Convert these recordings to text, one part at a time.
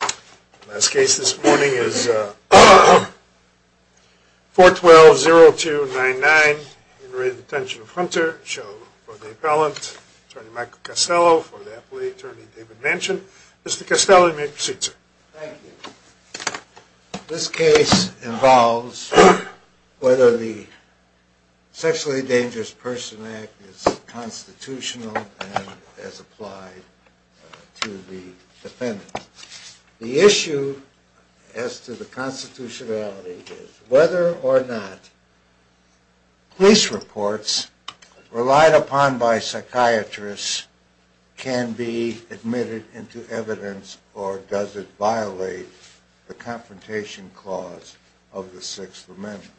The last case this morning is 412-0299 in retention of Hunter, show for the appellant attorney Michael Castello, for the appellate attorney David Manchin. Mr. Castello you may proceed sir. Thank you. This case involves whether the Sexually Dangerous Persons Act is constitutional and as applied to the defendant. The issue as to the constitutionality is whether or not police reports relied upon by psychiatrists can be admitted into evidence or does it violate the confrontation clause of the 6th amendment.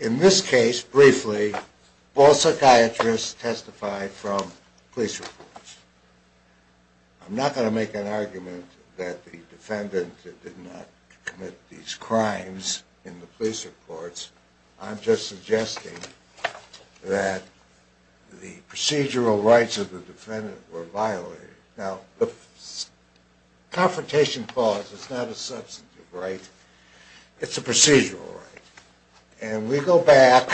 In this case, briefly, all psychiatrists testified from police reports. I'm not going to make an argument that the defendant did not commit these crimes in the police reports, I'm just suggesting that the procedural rights of the defendant were violated. Now the confrontation clause is not a substantive right, it's a procedural right. And we go back,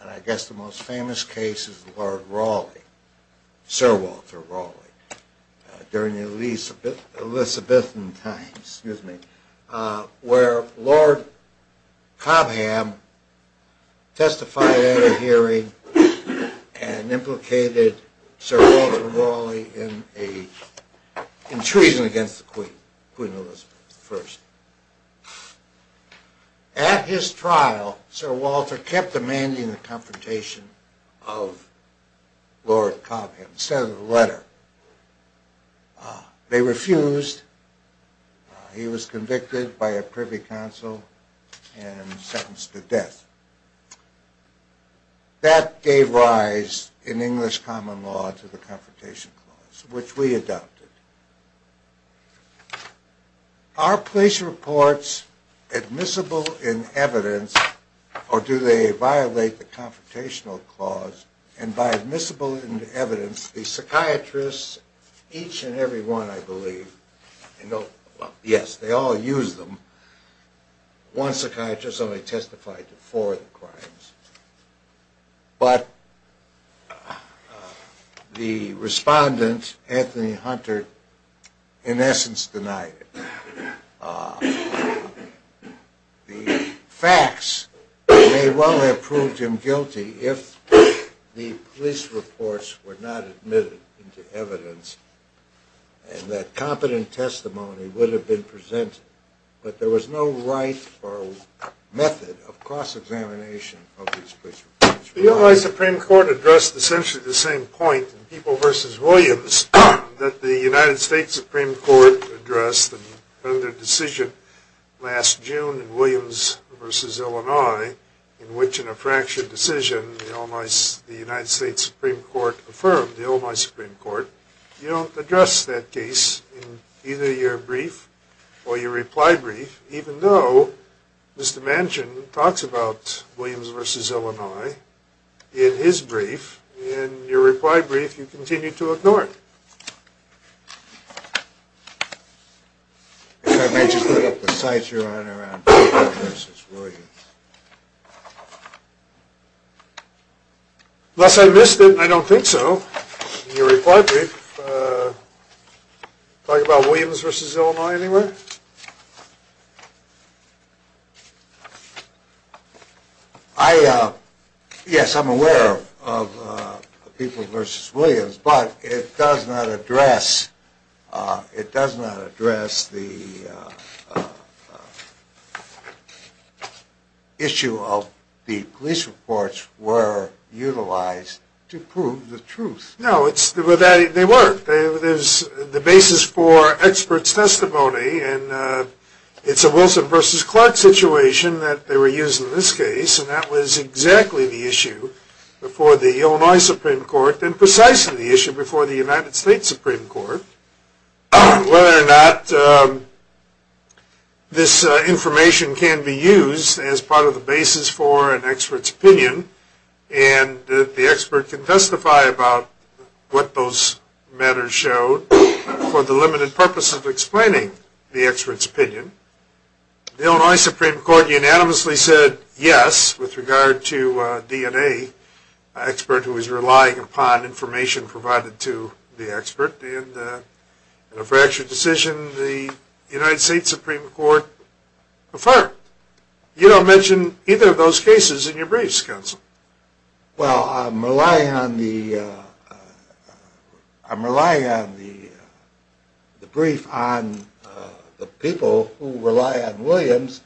and I guess the most famous case is Lord Rawley, Sir Walter Rawley, during the Elizabethan times, where Lord Cobham testified at a hearing and implicated Sir Walter Rawley in a treason against the Queen, Queen Elizabeth I. At his trial, Sir Walter kept demanding the confrontation of Lord Cobham, sent a letter. They refused, he was convicted by a privy counsel and sentenced to death. That gave rise in English common law to the confrontation clause, which we adopted. Are police reports admissible in evidence or do they violate the confrontational clause? And by admissible in evidence, the psychiatrists, each and every one I believe, yes, they all use them. One psychiatrist only testified to four of the crimes. But the respondent, Anthony Hunter, in essence denied it. The facts may well have proved him guilty if the police reports were not admitted into evidence and that competent testimony would have been presented. But there was no right or method of cross-examination of these police reports. The Illini Supreme Court addressed essentially the same point in People v. Williams that the United States Supreme Court addressed in their decision last June in Williams v. Illini, in which in a fractured decision, the United States Supreme Court affirmed, the Illini Supreme Court, you don't address that case in either your brief or your reply brief, even though Mr. Manchin talks about Williams v. Illini. In his brief, in your reply brief, you continue to ignore it. If I may just put up the cites you're on around Williams v. Williams. Unless I missed it, I don't think so. In your reply brief, talk about Williams v. Illini anywhere? Yes, I'm aware of People v. Williams, but it does not address the issue of the police reports were utilized to prove the truth. No, they were. There's the basis for experts' testimony, and it's a Wilson v. Clark situation that they were using in this case, and that was exactly the issue before the Illinois Supreme Court, and precisely the issue before the United States Supreme Court, whether or not this information can be used as part of the basis for an expert's opinion. And the expert can testify about what those matters showed for the limited purpose of explaining the expert's opinion. The Illinois Supreme Court unanimously said yes with regard to a DNA expert who was relying upon information provided to the expert, and in a fractured decision, the United States Supreme Court affirmed. You don't mention either of those cases in your briefs, Counsel. Well, I'm relying on the brief on the people who rely on Williams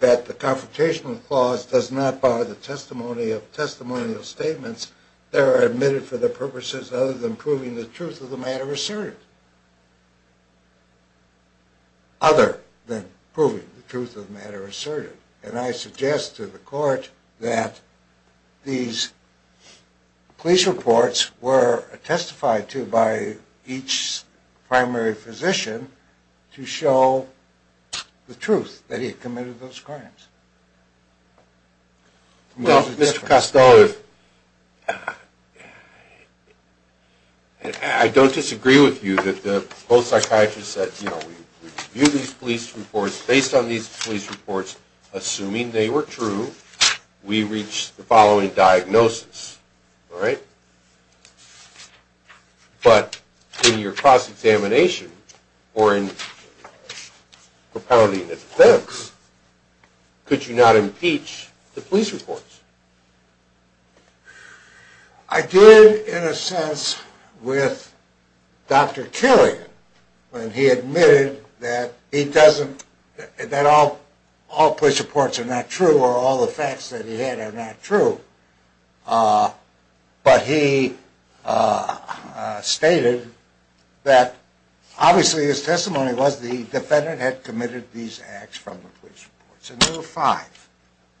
that the Confrontational Clause does not bar the testimony of testimonial statements that are admitted for the purposes other than proving the truth of the matter asserted. And I suggest to the court that these police reports were testified to by each primary physician to show the truth that he committed those crimes. Well, Mr. Costello, I don't disagree with you that both psychiatrists said, you know, we reviewed these police reports, based on these police reports, assuming they were true, we reached the following diagnosis, all right? But in your cross-examination, or in propounding the facts, could you not impeach the police reports? I did, in a sense, with Dr. Killian, when he admitted that all police reports are not true, or all the facts that he had are not true, but he stated that obviously his testimony was that the defendant had committed these acts from the police reports. And there were five.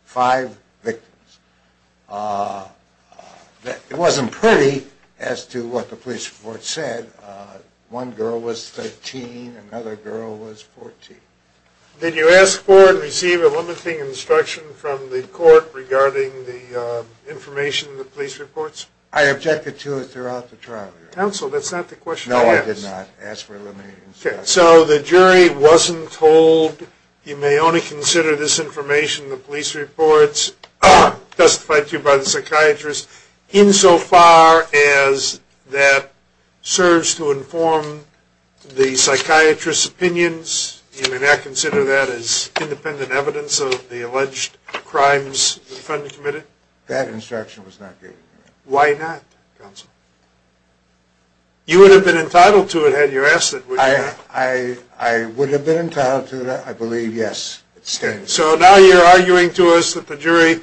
Five victims. It wasn't pretty as to what the police report said. One girl was 13, another girl was 14. Did you ask for and receive a limiting instruction from the court regarding the information in the police reports? I objected to it throughout the trial, Your Honor. Counsel, that's not the question I asked. No, I did not ask for a limiting instruction. So the jury wasn't told, you may only consider this information, the police reports, testified to by the psychiatrist, insofar as that serves to inform the psychiatrist's opinions? You may not consider that as independent evidence of the alleged crimes the defendant committed? That instruction was not given to me. Why not, counsel? You would have been entitled to it had you asked it, would you not? I would have been entitled to that, I believe, yes. So now you're arguing to us that the jury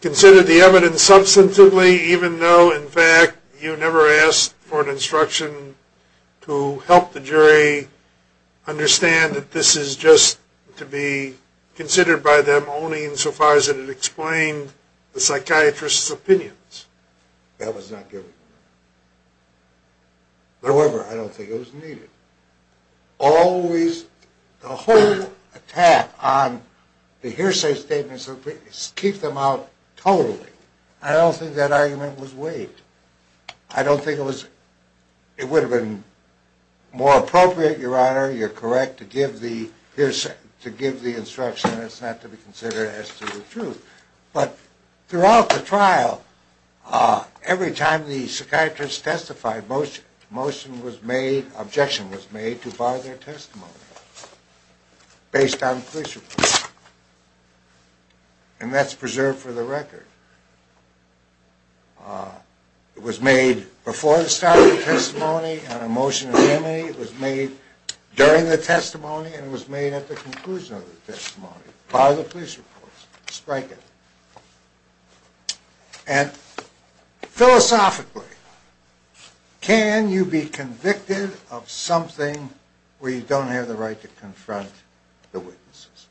considered the evidence substantively, even though in fact you never asked for an instruction to help the jury understand that this is just to be considered by them only insofar as it explained the psychiatrist's opinions? That was not given to me. However, I don't think it was needed. Always, the whole attack on the hearsay statements, keep them out totally. I don't think that argument was waived. I don't think it was, it would have been more appropriate, Your Honor, you're correct, to give the instruction that's not to be considered as to the truth. But throughout the trial, every time the psychiatrist testified, motion was made, objection was made to bar their testimony based on police reports. And that's preserved for the record. It was made before the start of the testimony on a motion of remedy. It was made during the testimony, and it was made at the conclusion of the testimony by the police reports. Strike it. And philosophically, can you be convicted of something where you don't have the right to confront the witnesses?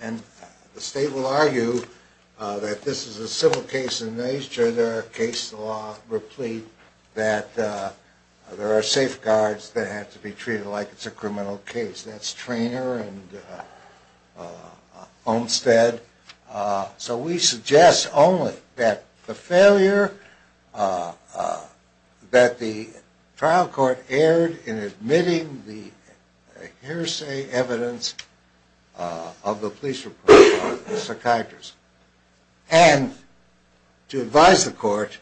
And the state will argue that this is a civil case in nature. There are case law replete that there are safeguards that have to be treated like it's a criminal case. That's Treanor and Olmstead. So we suggest only that the failure, that the trial court erred in admitting the hearsay evidence of the police report on the psychiatrist. And to advise the court,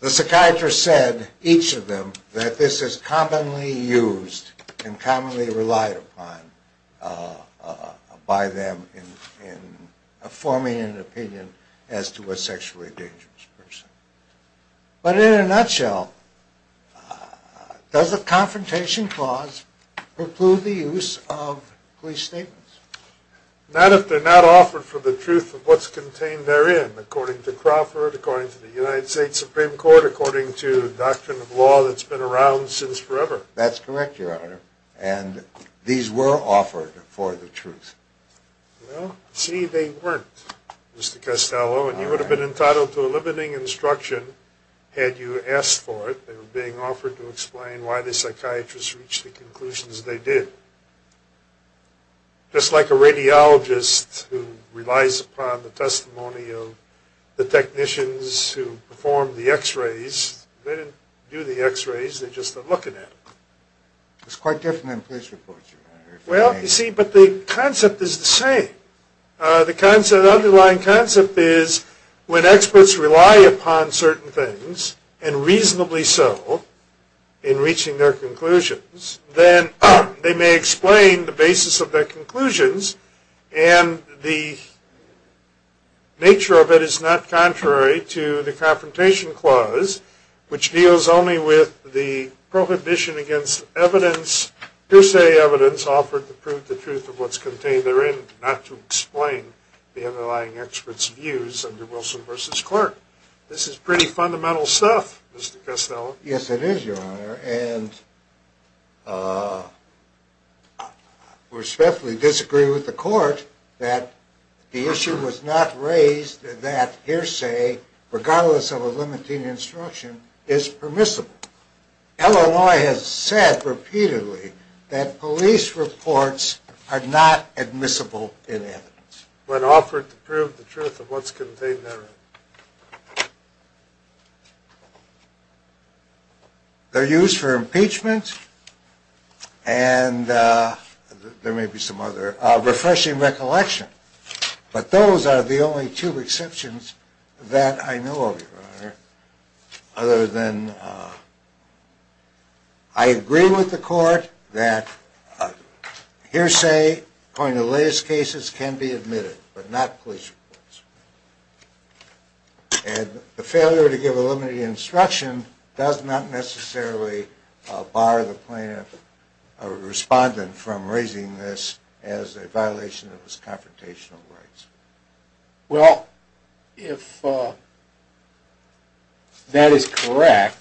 the psychiatrist said, each of them, that this is commonly used and commonly relied upon by them in forming an opinion as to a sexually dangerous person. But in a nutshell, does the confrontation clause preclude the use of police statements? Not if they're not offered for the truth of what's contained therein, according to Crawford, according to the United States Supreme Court, according to the doctrine of law that's been around since forever. That's correct, Your Honor, and these were offered for the truth. Well, see, they weren't, Mr. Castello, and you would have been entitled to a limiting instruction had you asked for it. They were being offered to explain why the psychiatrist reached the conclusions they did. Just like a radiologist who relies upon the testimony of the technicians who perform the x-rays, they didn't do the x-rays, they just are looking at them. It's quite different than police reports, Your Honor. Well, you see, but the concept is the same. The underlying concept is when experts rely upon certain things, and reasonably so, in reaching their conclusions, then they may explain the basis of their conclusions, and the nature of it is not contrary to the confrontation clause, which deals only with the prohibition against evidence, per se evidence, offered to prove the truth of what's contained therein, not to explain the underlying expert's views under Wilson v. Clark. This is pretty fundamental stuff, Mr. Castello. Yes, it is, Your Honor, and I respectfully disagree with the court that the issue was not raised that hearsay, regardless of a limiting instruction, is permissible. Illinois has said repeatedly that police reports are not admissible in evidence. When offered to prove the truth of what's contained therein. They're used for impeachment and there may be some other refreshing recollection, but those are the only two exceptions that I know of, Your Honor, other than I agree with the court that hearsay, according to the latest cases, can be admitted, but not police reports. And the failure to give a limiting instruction does not necessarily bar the plaintiff or respondent from raising this as a violation of his confrontational rights. Well, if that is correct,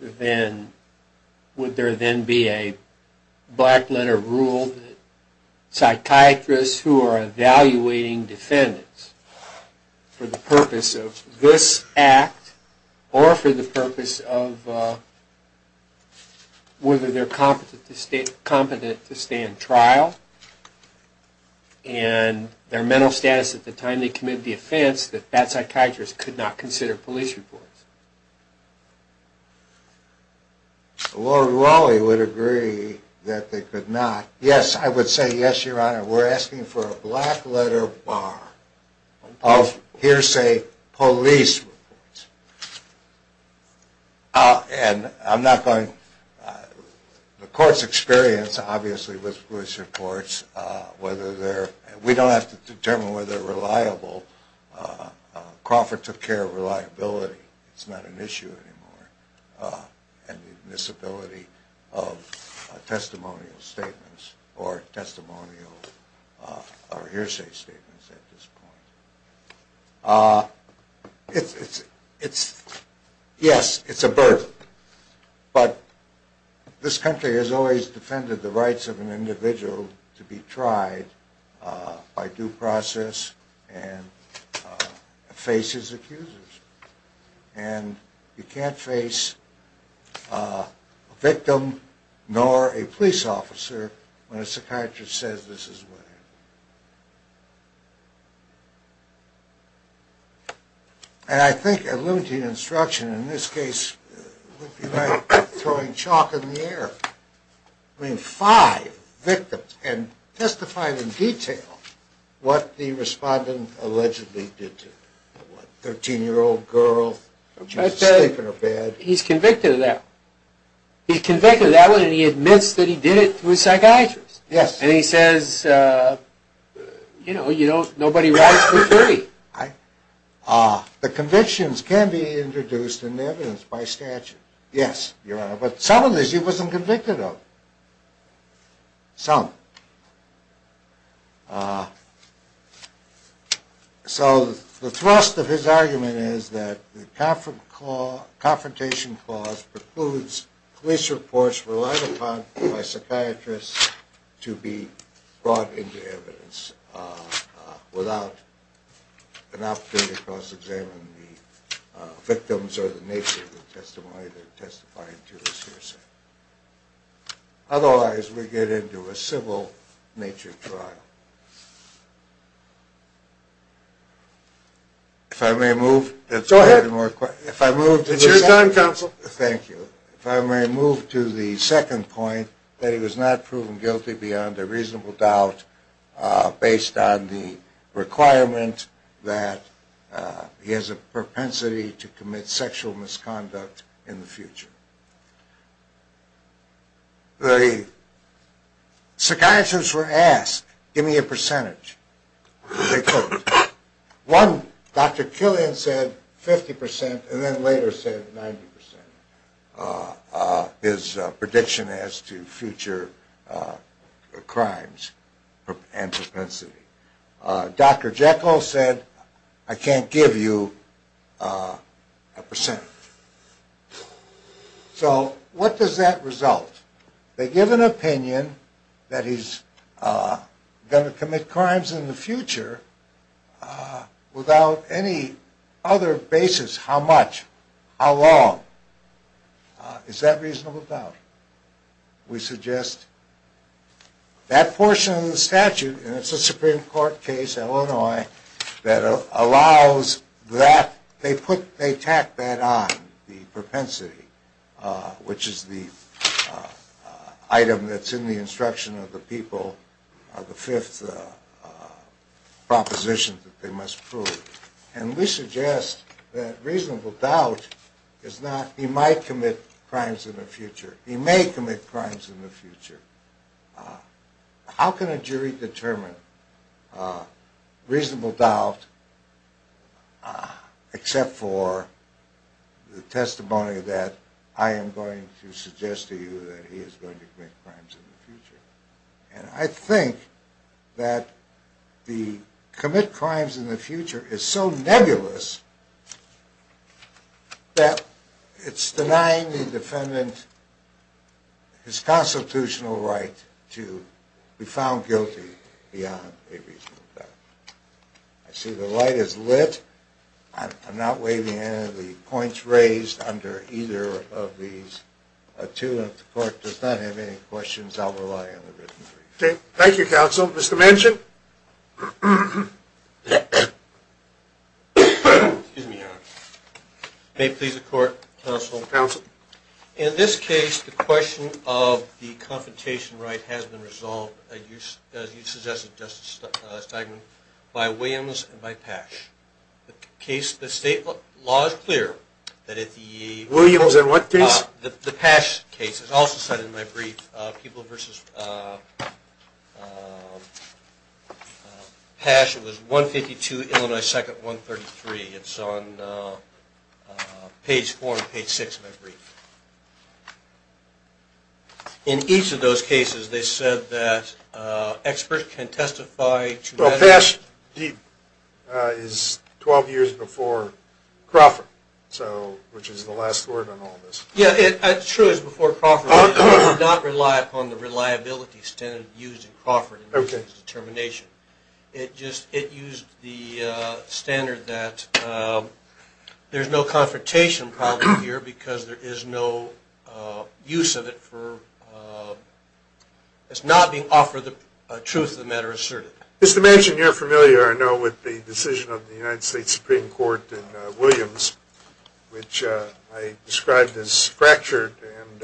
then would there then be a black letter rule that psychiatrists who are evaluating defendants for the purpose of this act or for the purpose of whether they're competent to stay in trial and their mental status at the time they committed the offense, that that psychiatrist could not consider police reports? Lord Raleigh would agree that they could not. Yes, I would say yes, Your Honor. We're asking for a black letter bar of hearsay police reports. The court's experience, obviously, with police reports, we don't have to determine whether they're reliable. Crawford took care of reliability, it's not an issue anymore, and the admissibility of testimonial statements or hearsay statements at this point. Yes, it's a burden, but this country has always defended the rights of an individual to be tried by due process and face his accusers. And you can't face a victim nor a police officer when a psychiatrist says this is what happened. And I think a limited instruction in this case would be like throwing chalk in the air. I mean, five victims and testifying in detail what the respondent allegedly did to a 13-year-old girl. He's convicted of that. He's convicted of that and he admits that he did it to a psychiatrist. Yes. And he says, you know, nobody writes for free. The convictions can be introduced into evidence by statute. Yes, Your Honor, but some of this he wasn't convicted of. Some. So the thrust of his argument is that the Confrontation Clause precludes police reports relied upon by psychiatrists to be brought into evidence without an opportunity to cross-examine the victims or the nature of the testimony they're testifying to as hearsay. Otherwise, we get into a civil nature trial. If I may move. Go ahead. It's your time, counsel. Thank you. If I may move to the second point, that he was not proven guilty beyond a reasonable doubt based on the requirement that he has a propensity to commit sexual misconduct in the future. The psychiatrists were asked, give me a percentage. They couldn't. One, Dr. Killian, said 50%, and then later said 90%, his prediction as to future crimes and propensity. Dr. Jekyll said, I can't give you a percentage. So what does that result? They give an opinion that he's going to commit crimes in the future without any other basis, how much, how long. Is that reasonable doubt? We suggest that portion of the statute, and it's a Supreme Court case, Illinois, that allows that. They tack that on, the propensity, which is the item that's in the instruction of the people, the fifth proposition that they must prove. And we suggest that reasonable doubt is not he might commit crimes in the future, he may commit crimes in the future. How can a jury determine reasonable doubt except for the testimony that I am going to suggest to you that he is going to commit crimes in the future? And I think that the commit crimes in the future is so nebulous that it's denying the defendant his constitutional right to be found guilty beyond a reasonable doubt. I see the light is lit. I'm not waiving any of the points raised under either of these. If the court does not have any questions, I'll rely on the written brief. Thank you, counsel. Mr. Manchin. Counsel. In this case, the question of the confrontation right has been resolved, as you suggested, Justice Steinman, by Williams and by Pasch. The state law is clear that if the... Williams in what case? The Pasch case. It's also cited in my brief. People versus Pasch. It was 152, Illinois 2nd, 133. It's on page 4 and page 6 of my brief. In each of those cases, they said that experts can testify... Well, Pasch is 12 years before Crawford, which is the last word on all this. Yeah, it truly is before Crawford. We do not rely upon the reliability standard used in Crawford in this determination. It used the standard that there's no confrontation problem here because there is no use of it for... It's not being offered the truth of the matter asserted. Mr. Manchin, you're familiar, I know, with the decision of the United States Supreme Court in Williams, which I described as fractured. And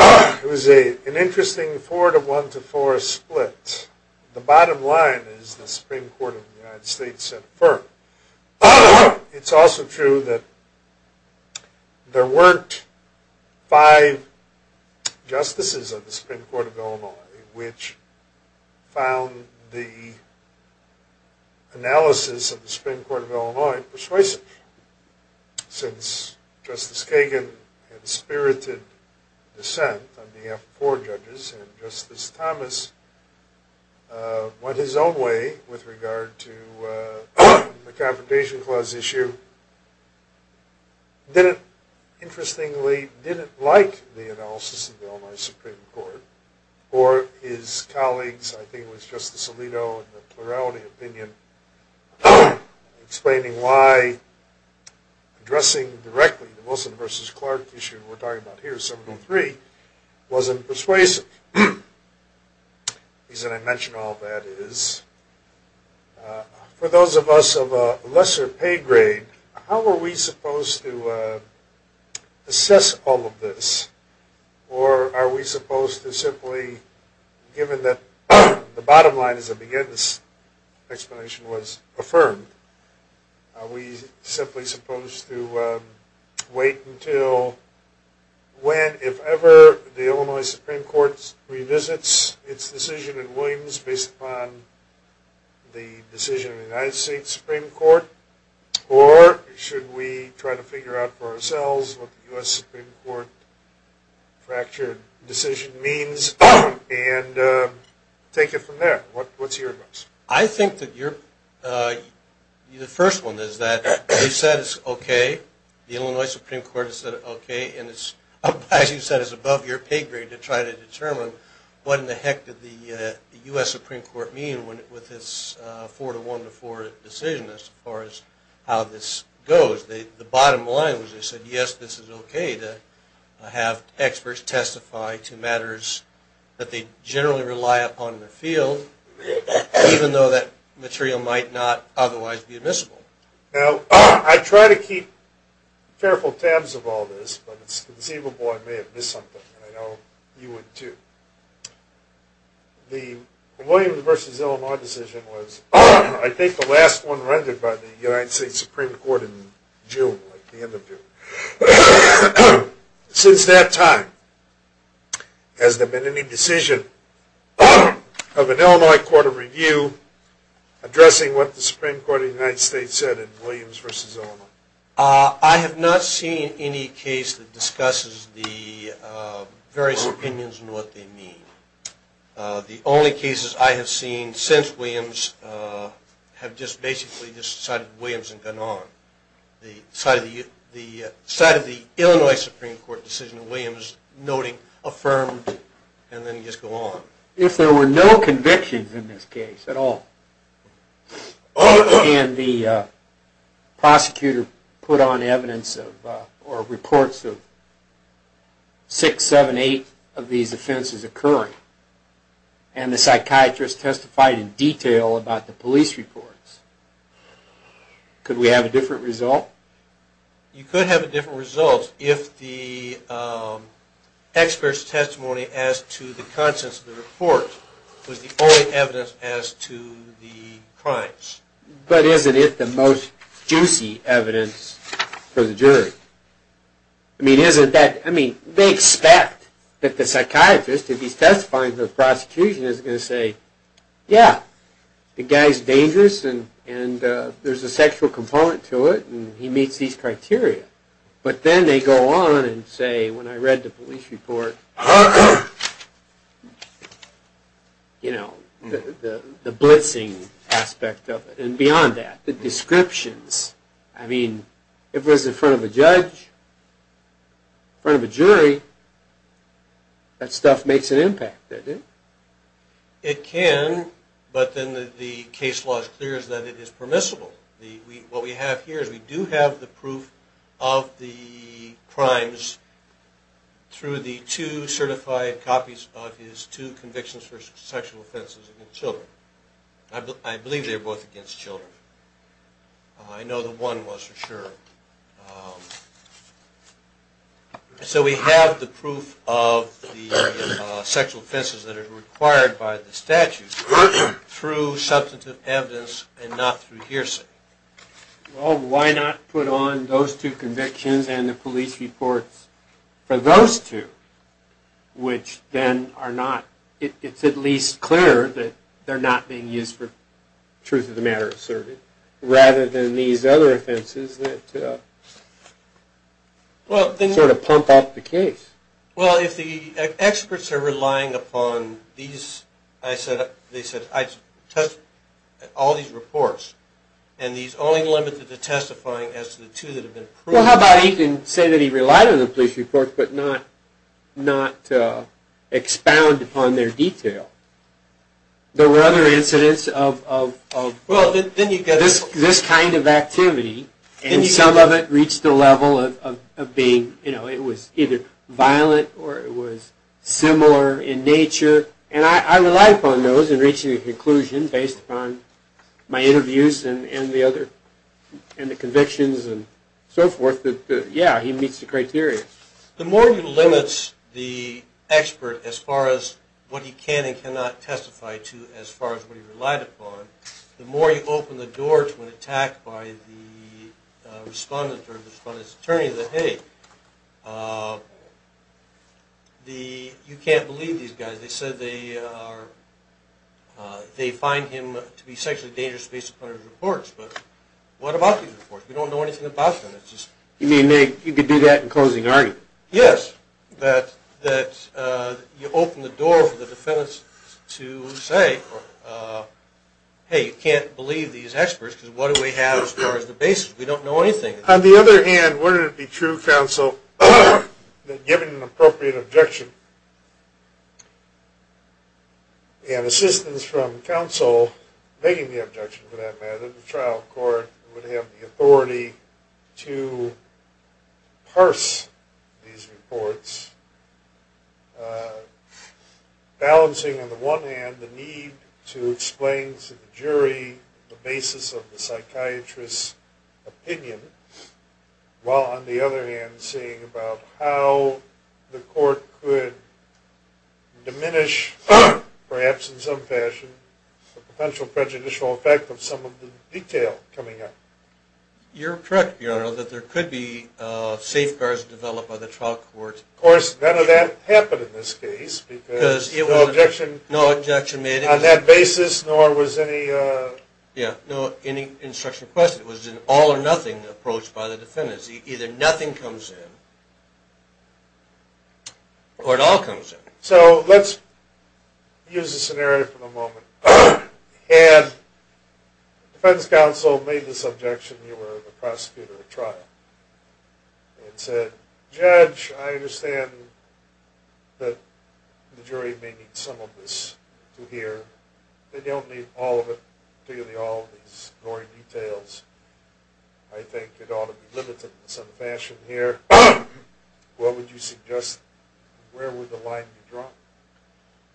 it was an interesting 4 to 1 to 4 split. The bottom line is the Supreme Court of the United States said affirm. It's also true that there weren't five justices of the Supreme Court of Illinois which found the analysis of the Supreme Court of Illinois persuasive. Since Justice Kagan had spirited dissent on behalf of four judges, and Justice Thomas went his own way with regard to the Confrontation Clause issue, didn't, interestingly, didn't like the analysis of the Illinois Supreme Court. Or his colleagues, I think it was Justice Alito in the Plurality Opinion, explaining why addressing directly the Wilson v. Clark issue we're talking about here, 703, wasn't persuasive. The reason I mention all that is for those of us of a lesser pay grade, how are we supposed to assess all of this? Or are we supposed to simply, given that the bottom line, as I began this explanation, was affirmed, are we simply supposed to wait until when, if ever, the Illinois Supreme Court revisits its decision in Williams based upon the decision of the United States Supreme Court? Or should we try to figure out for ourselves what the U.S. Supreme Court fractured decision means and take it from there? What's your advice? I think that the first one is that you said it's okay. The Illinois Supreme Court has said it's okay. And as you said, it's above your pay grade to try to determine what in the heck did the U.S. Supreme Court mean with this 4-1-4 decision as far as how this goes. The bottom line was they said, yes, this is okay to have experts testify to matters that they generally rely upon in the field, even though that material might not otherwise be admissible. Now, I try to keep careful tabs of all this, but it's conceivable I may have missed something, and I know you would too. The Williams v. Illinois decision was, I think, the last one rendered by the United States Supreme Court in June, like the end of June. Since that time, has there been any decision of an Illinois court of review addressing what the Supreme Court of the United States said in Williams v. Illinois? I have not seen any case that discusses the various opinions and what they mean. The only cases I have seen since Williams have just basically just cited Williams and gone on. The side of the Illinois Supreme Court decision in Williams, noting, affirmed, and then just go on. If there were no convictions in this case at all, and the prosecutor put on evidence or reports of six, seven, eight of these offenses occurring, and the psychiatrist testified in detail about the police reports, could we have a different result? You could have a different result if the expert's testimony as to the contents of the report was the only evidence as to the crimes. But isn't it the most juicy evidence for the jury? I mean, they expect that the psychiatrist, if he's testifying to the prosecution, is going to say, yeah, the guy's dangerous, and there's a sexual component to it, and he meets these criteria. But then they go on and say, when I read the police report, you know, the blitzing aspect of it. And beyond that, the descriptions. I mean, if it was in front of a judge, in front of a jury, that stuff makes an impact, doesn't it? It can, but then the case law is clear that it is permissible. What we have here is we do have the proof of the crimes through the two certified copies of his two convictions for sexual offenses against children. I believe they're both against children. I know the one was for sure. So we have the proof of the sexual offenses that are required by the statute through substantive evidence and not through hearsay. Well, why not put on those two convictions and the police reports for those two, which then are not, it's at least clear that they're not being used for truth of the matter asserted, rather than these other offenses that sort of pump up the case. Well, if the experts are relying upon these, they said, I touched all these reports, and these only limited the testifying as to the two that have been proven. Well, how about he can say that he relied on the police reports but not expound upon their detail? There were other incidents of... Well, then you get... This kind of activity, and some of it reached the level of being, you know, it was either violent or it was similar in nature, and I relied upon those in reaching a conclusion based upon my interviews and the other, and the convictions and so forth that, yeah, he meets the criteria. The more he limits the expert as far as what he can and cannot testify to as far as what he relied upon, the more you open the door to an attack by the respondent or the respondent's attorney that, hey, you can't believe these guys. They said they find him to be sexually dangerous based upon his reports, but what about these reports? We don't know anything about them. You mean you could do that in closing argument? Yes, that you open the door for the defendants to say, hey, you can't believe these experts because what do we have as far as the basis? We don't know anything. On the other hand, wouldn't it be true, counsel, that given an appropriate objection, and assistance from counsel making the objection to that matter, that the trial court would have the authority to parse these reports, balancing on the one hand the need to explain to the jury the basis of the psychiatrist's opinion, while on the other hand seeing about how the court could diminish, perhaps in some fashion, the potential prejudicial effect of some of the detail coming up? You're correct, Your Honor, that there could be safeguards developed by the trial court. Of course, none of that happened in this case because no objection on that basis nor was any instruction requested. It was an all or nothing approach by the defendants. Either nothing comes in or it all comes in. So let's use the scenario for the moment. Had the defense counsel made this objection, you were the prosecutor at trial, and said, Judge, I understand that the jury may need some of this to hear. They don't need all of it, particularly all of these gory details. I think it ought to be limited in some fashion here. What would you suggest? Where would the line be drawn?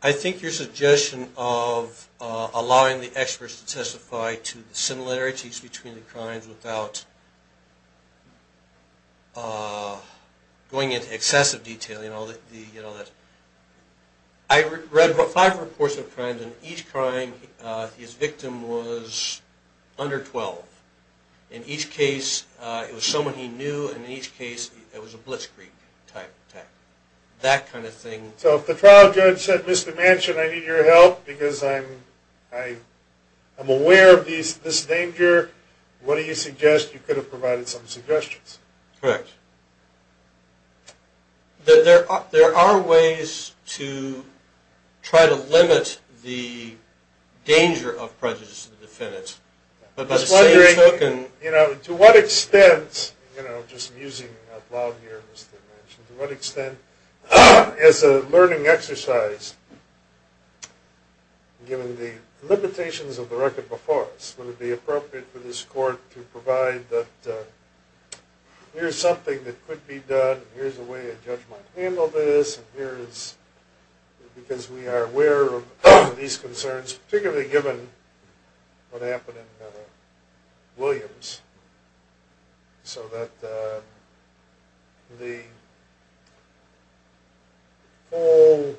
I think your suggestion of allowing the experts to testify to the similarities between the crimes without going into excessive detail and all that. I read five reports of crimes, and each crime, his victim was under 12. In each case, it was someone he knew, and in each case, it was a blitzkrieg type attack. That kind of thing. So if the trial judge said, Mr. Manchin, I need your help because I'm aware of this danger, what do you suggest? You could have provided some suggestions. Correct. There are ways to try to limit the danger of prejudice to the defendants. I was wondering to what extent, just musing out loud here, Mr. Manchin, to what extent as a learning exercise, given the limitations of the record before us, would it be appropriate for this court to provide that here's something that could be done, here's a way a judge might handle this, because we are aware of these concerns, particularly given what happened in Williams so that the whole,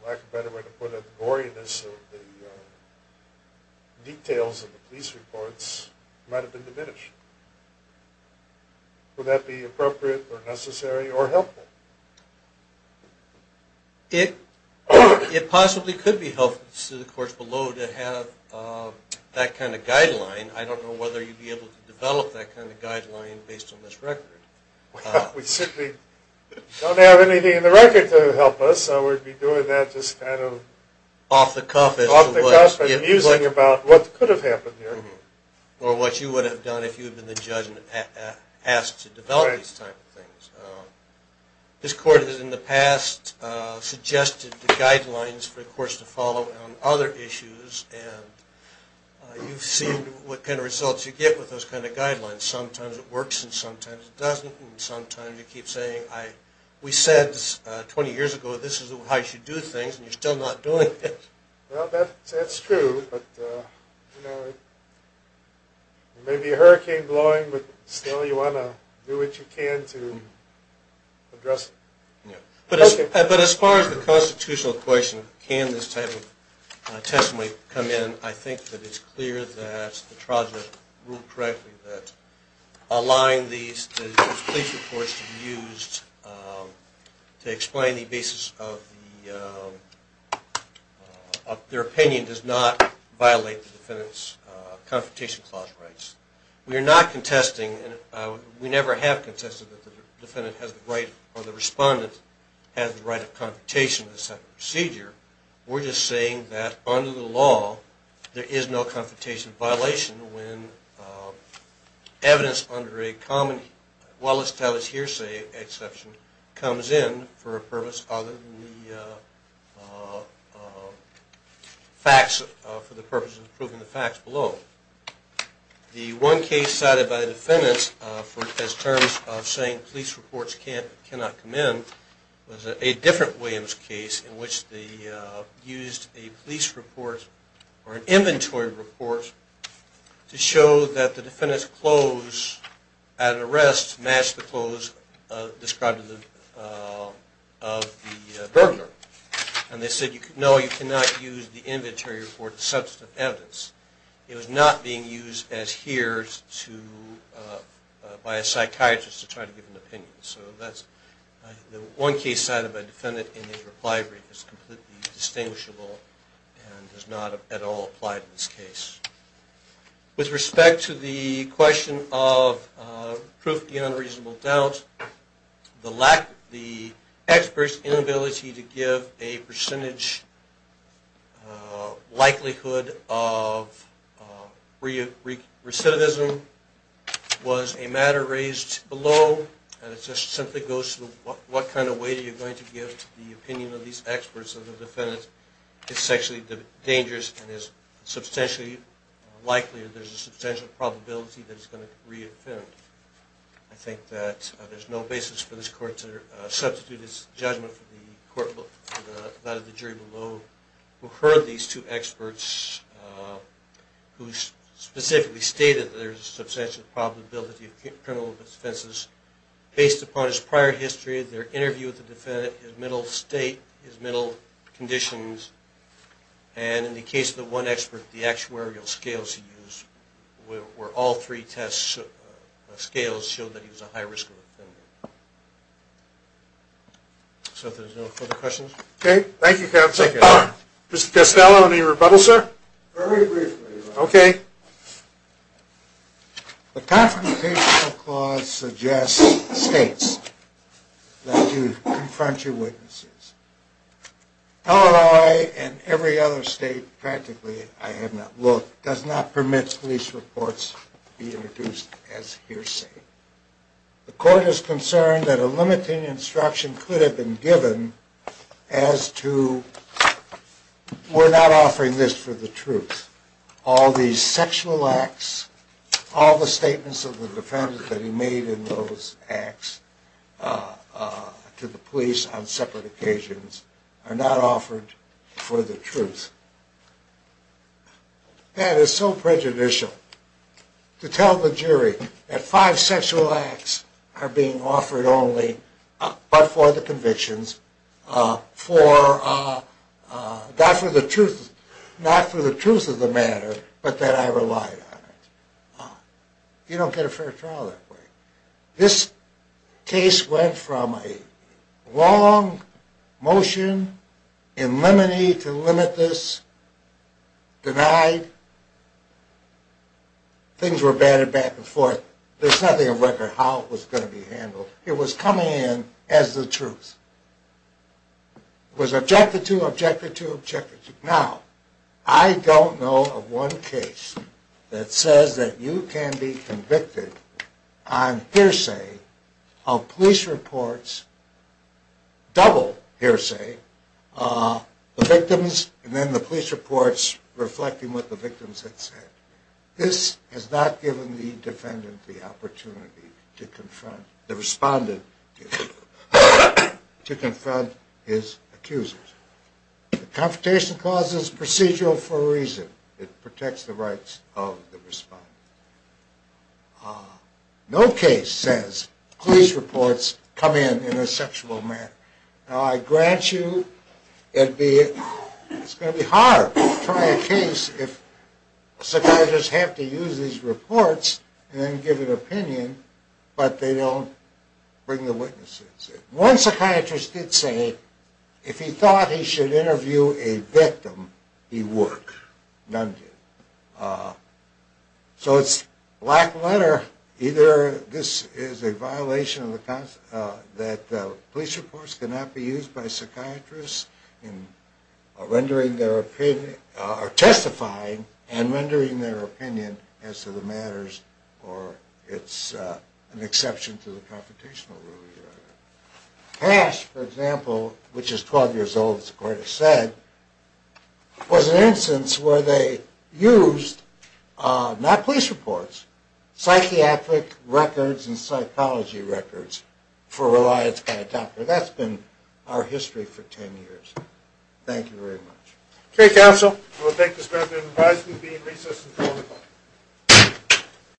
for lack of a better way to put it, the goriness of the details of the police reports might have been diminished. Would that be appropriate or necessary or helpful? It possibly could be helpful to the courts below to have that kind of guideline. I don't know whether you'd be able to develop that kind of guideline based on this record. Well, we certainly don't have anything in the record to help us, so we'd be doing that just kind of off the cuff, but musing about what could have happened here. Or what you would have done if you had been the judge asked to develop these type of things. This court has in the past suggested the guidelines for the courts to follow on other issues, and you've seen what kind of results you get with those kind of guidelines. Sometimes it works and sometimes it doesn't, and sometimes you keep saying, we said 20 years ago this is how you should do things, and you're still not doing it. Well, that's true, but there may be a hurricane blowing, but still you want to do what you can to address it. But as far as the constitutional question, can this type of testimony come in, I think that it's clear that the trial judge ruled correctly that allowing these police reports to be used to explain the basis of their opinion does not violate the defendant's Confrontation Clause rights. We are not contesting, and we never have contested that the defendant has the right, or the respondent has the right of confrontation in this type of procedure. We're just saying that under the law there is no confrontation violation when evidence under a common well-established hearsay exception comes in for a purpose other than the facts for the purpose of proving the facts below. The one case cited by the defendants as terms of saying police reports cannot come in was a different Williams case in which they used a police report, or an inventory report, to show that the defendant's clothes at arrest matched the clothes described to the burglar. And they said, no, you cannot use the inventory report to substantiate evidence. It was not being used as hears by a psychiatrist to try to give an opinion. So that's the one case cited by a defendant in a reply brief that's completely distinguishable and does not at all apply to this case. With respect to the question of proof beyond reasonable doubt, the expert's inability to give a percentage likelihood of recidivism was a matter raised below, and it just simply goes to what kind of weight are you going to give to the opinion of these experts if the defendant is sexually dangerous and is substantially likely that there's a substantial probability that he's going to re-offend. I think that there's no basis for this court to substitute its judgment for the jury below who heard these two experts, who specifically stated that there's a substantial probability of criminal offenses based upon his prior history, their interview with the defendant, his mental state, his mental conditions, and in the case of the one expert, the actuarial scales he used where all three scales showed that he was a high-risk offender. So if there's no further questions. Okay. Thank you, counsel. Mr. Costello, any rebuttal, sir? Very briefly. Okay. The Confrontational Clause suggests states that you confront your witnesses. Illinois and every other state, practically, I have not looked, does not permit police reports to be introduced as hearsay. The court is concerned that a limiting instruction could have been given as to we're not offering this for the truth. All these sexual acts, all the statements of the defendant that he made in those acts to the police on separate occasions are not offered for the truth. That is so prejudicial. To tell the jury that five sexual acts are being offered only but for the convictions, not for the truth of the matter, but that I relied on it. You don't get a fair trial that way. This case went from a long motion in limine to limit this, denied. Things were batted back and forth. There's nothing on record how it was going to be handled. It was coming in as the truth. It was objected to, objected to, objected to. Now, I don't know of one case that says that you can be convicted on hearsay of police reports, double hearsay, the victims and then the police reports reflecting what the victims had said. This has not given the defendant the opportunity to confront, the respondent, to confront his accusers. The Confrontation Clause is procedural for a reason. It protects the rights of the respondent. No case says police reports come in in a sexual manner. Now, I grant you it's going to be hard to try a case if the psychiatrists have to use these reports and then give an opinion, but they don't bring the witnesses in. One psychiatrist did say if he thought he should interview a victim, he would. None did. So it's black letter. Either this is a violation that police reports cannot be used by psychiatrists in rendering their opinion, or testifying and rendering their opinion as to the matters, or it's an exception to the Confrontational Rule. Cash, for example, which is 12 years old, as the court has said, was an instance where they used not police reports, psychiatric records and psychology records for reliance by a doctor. That's been our history for 10 years. Thank you very much.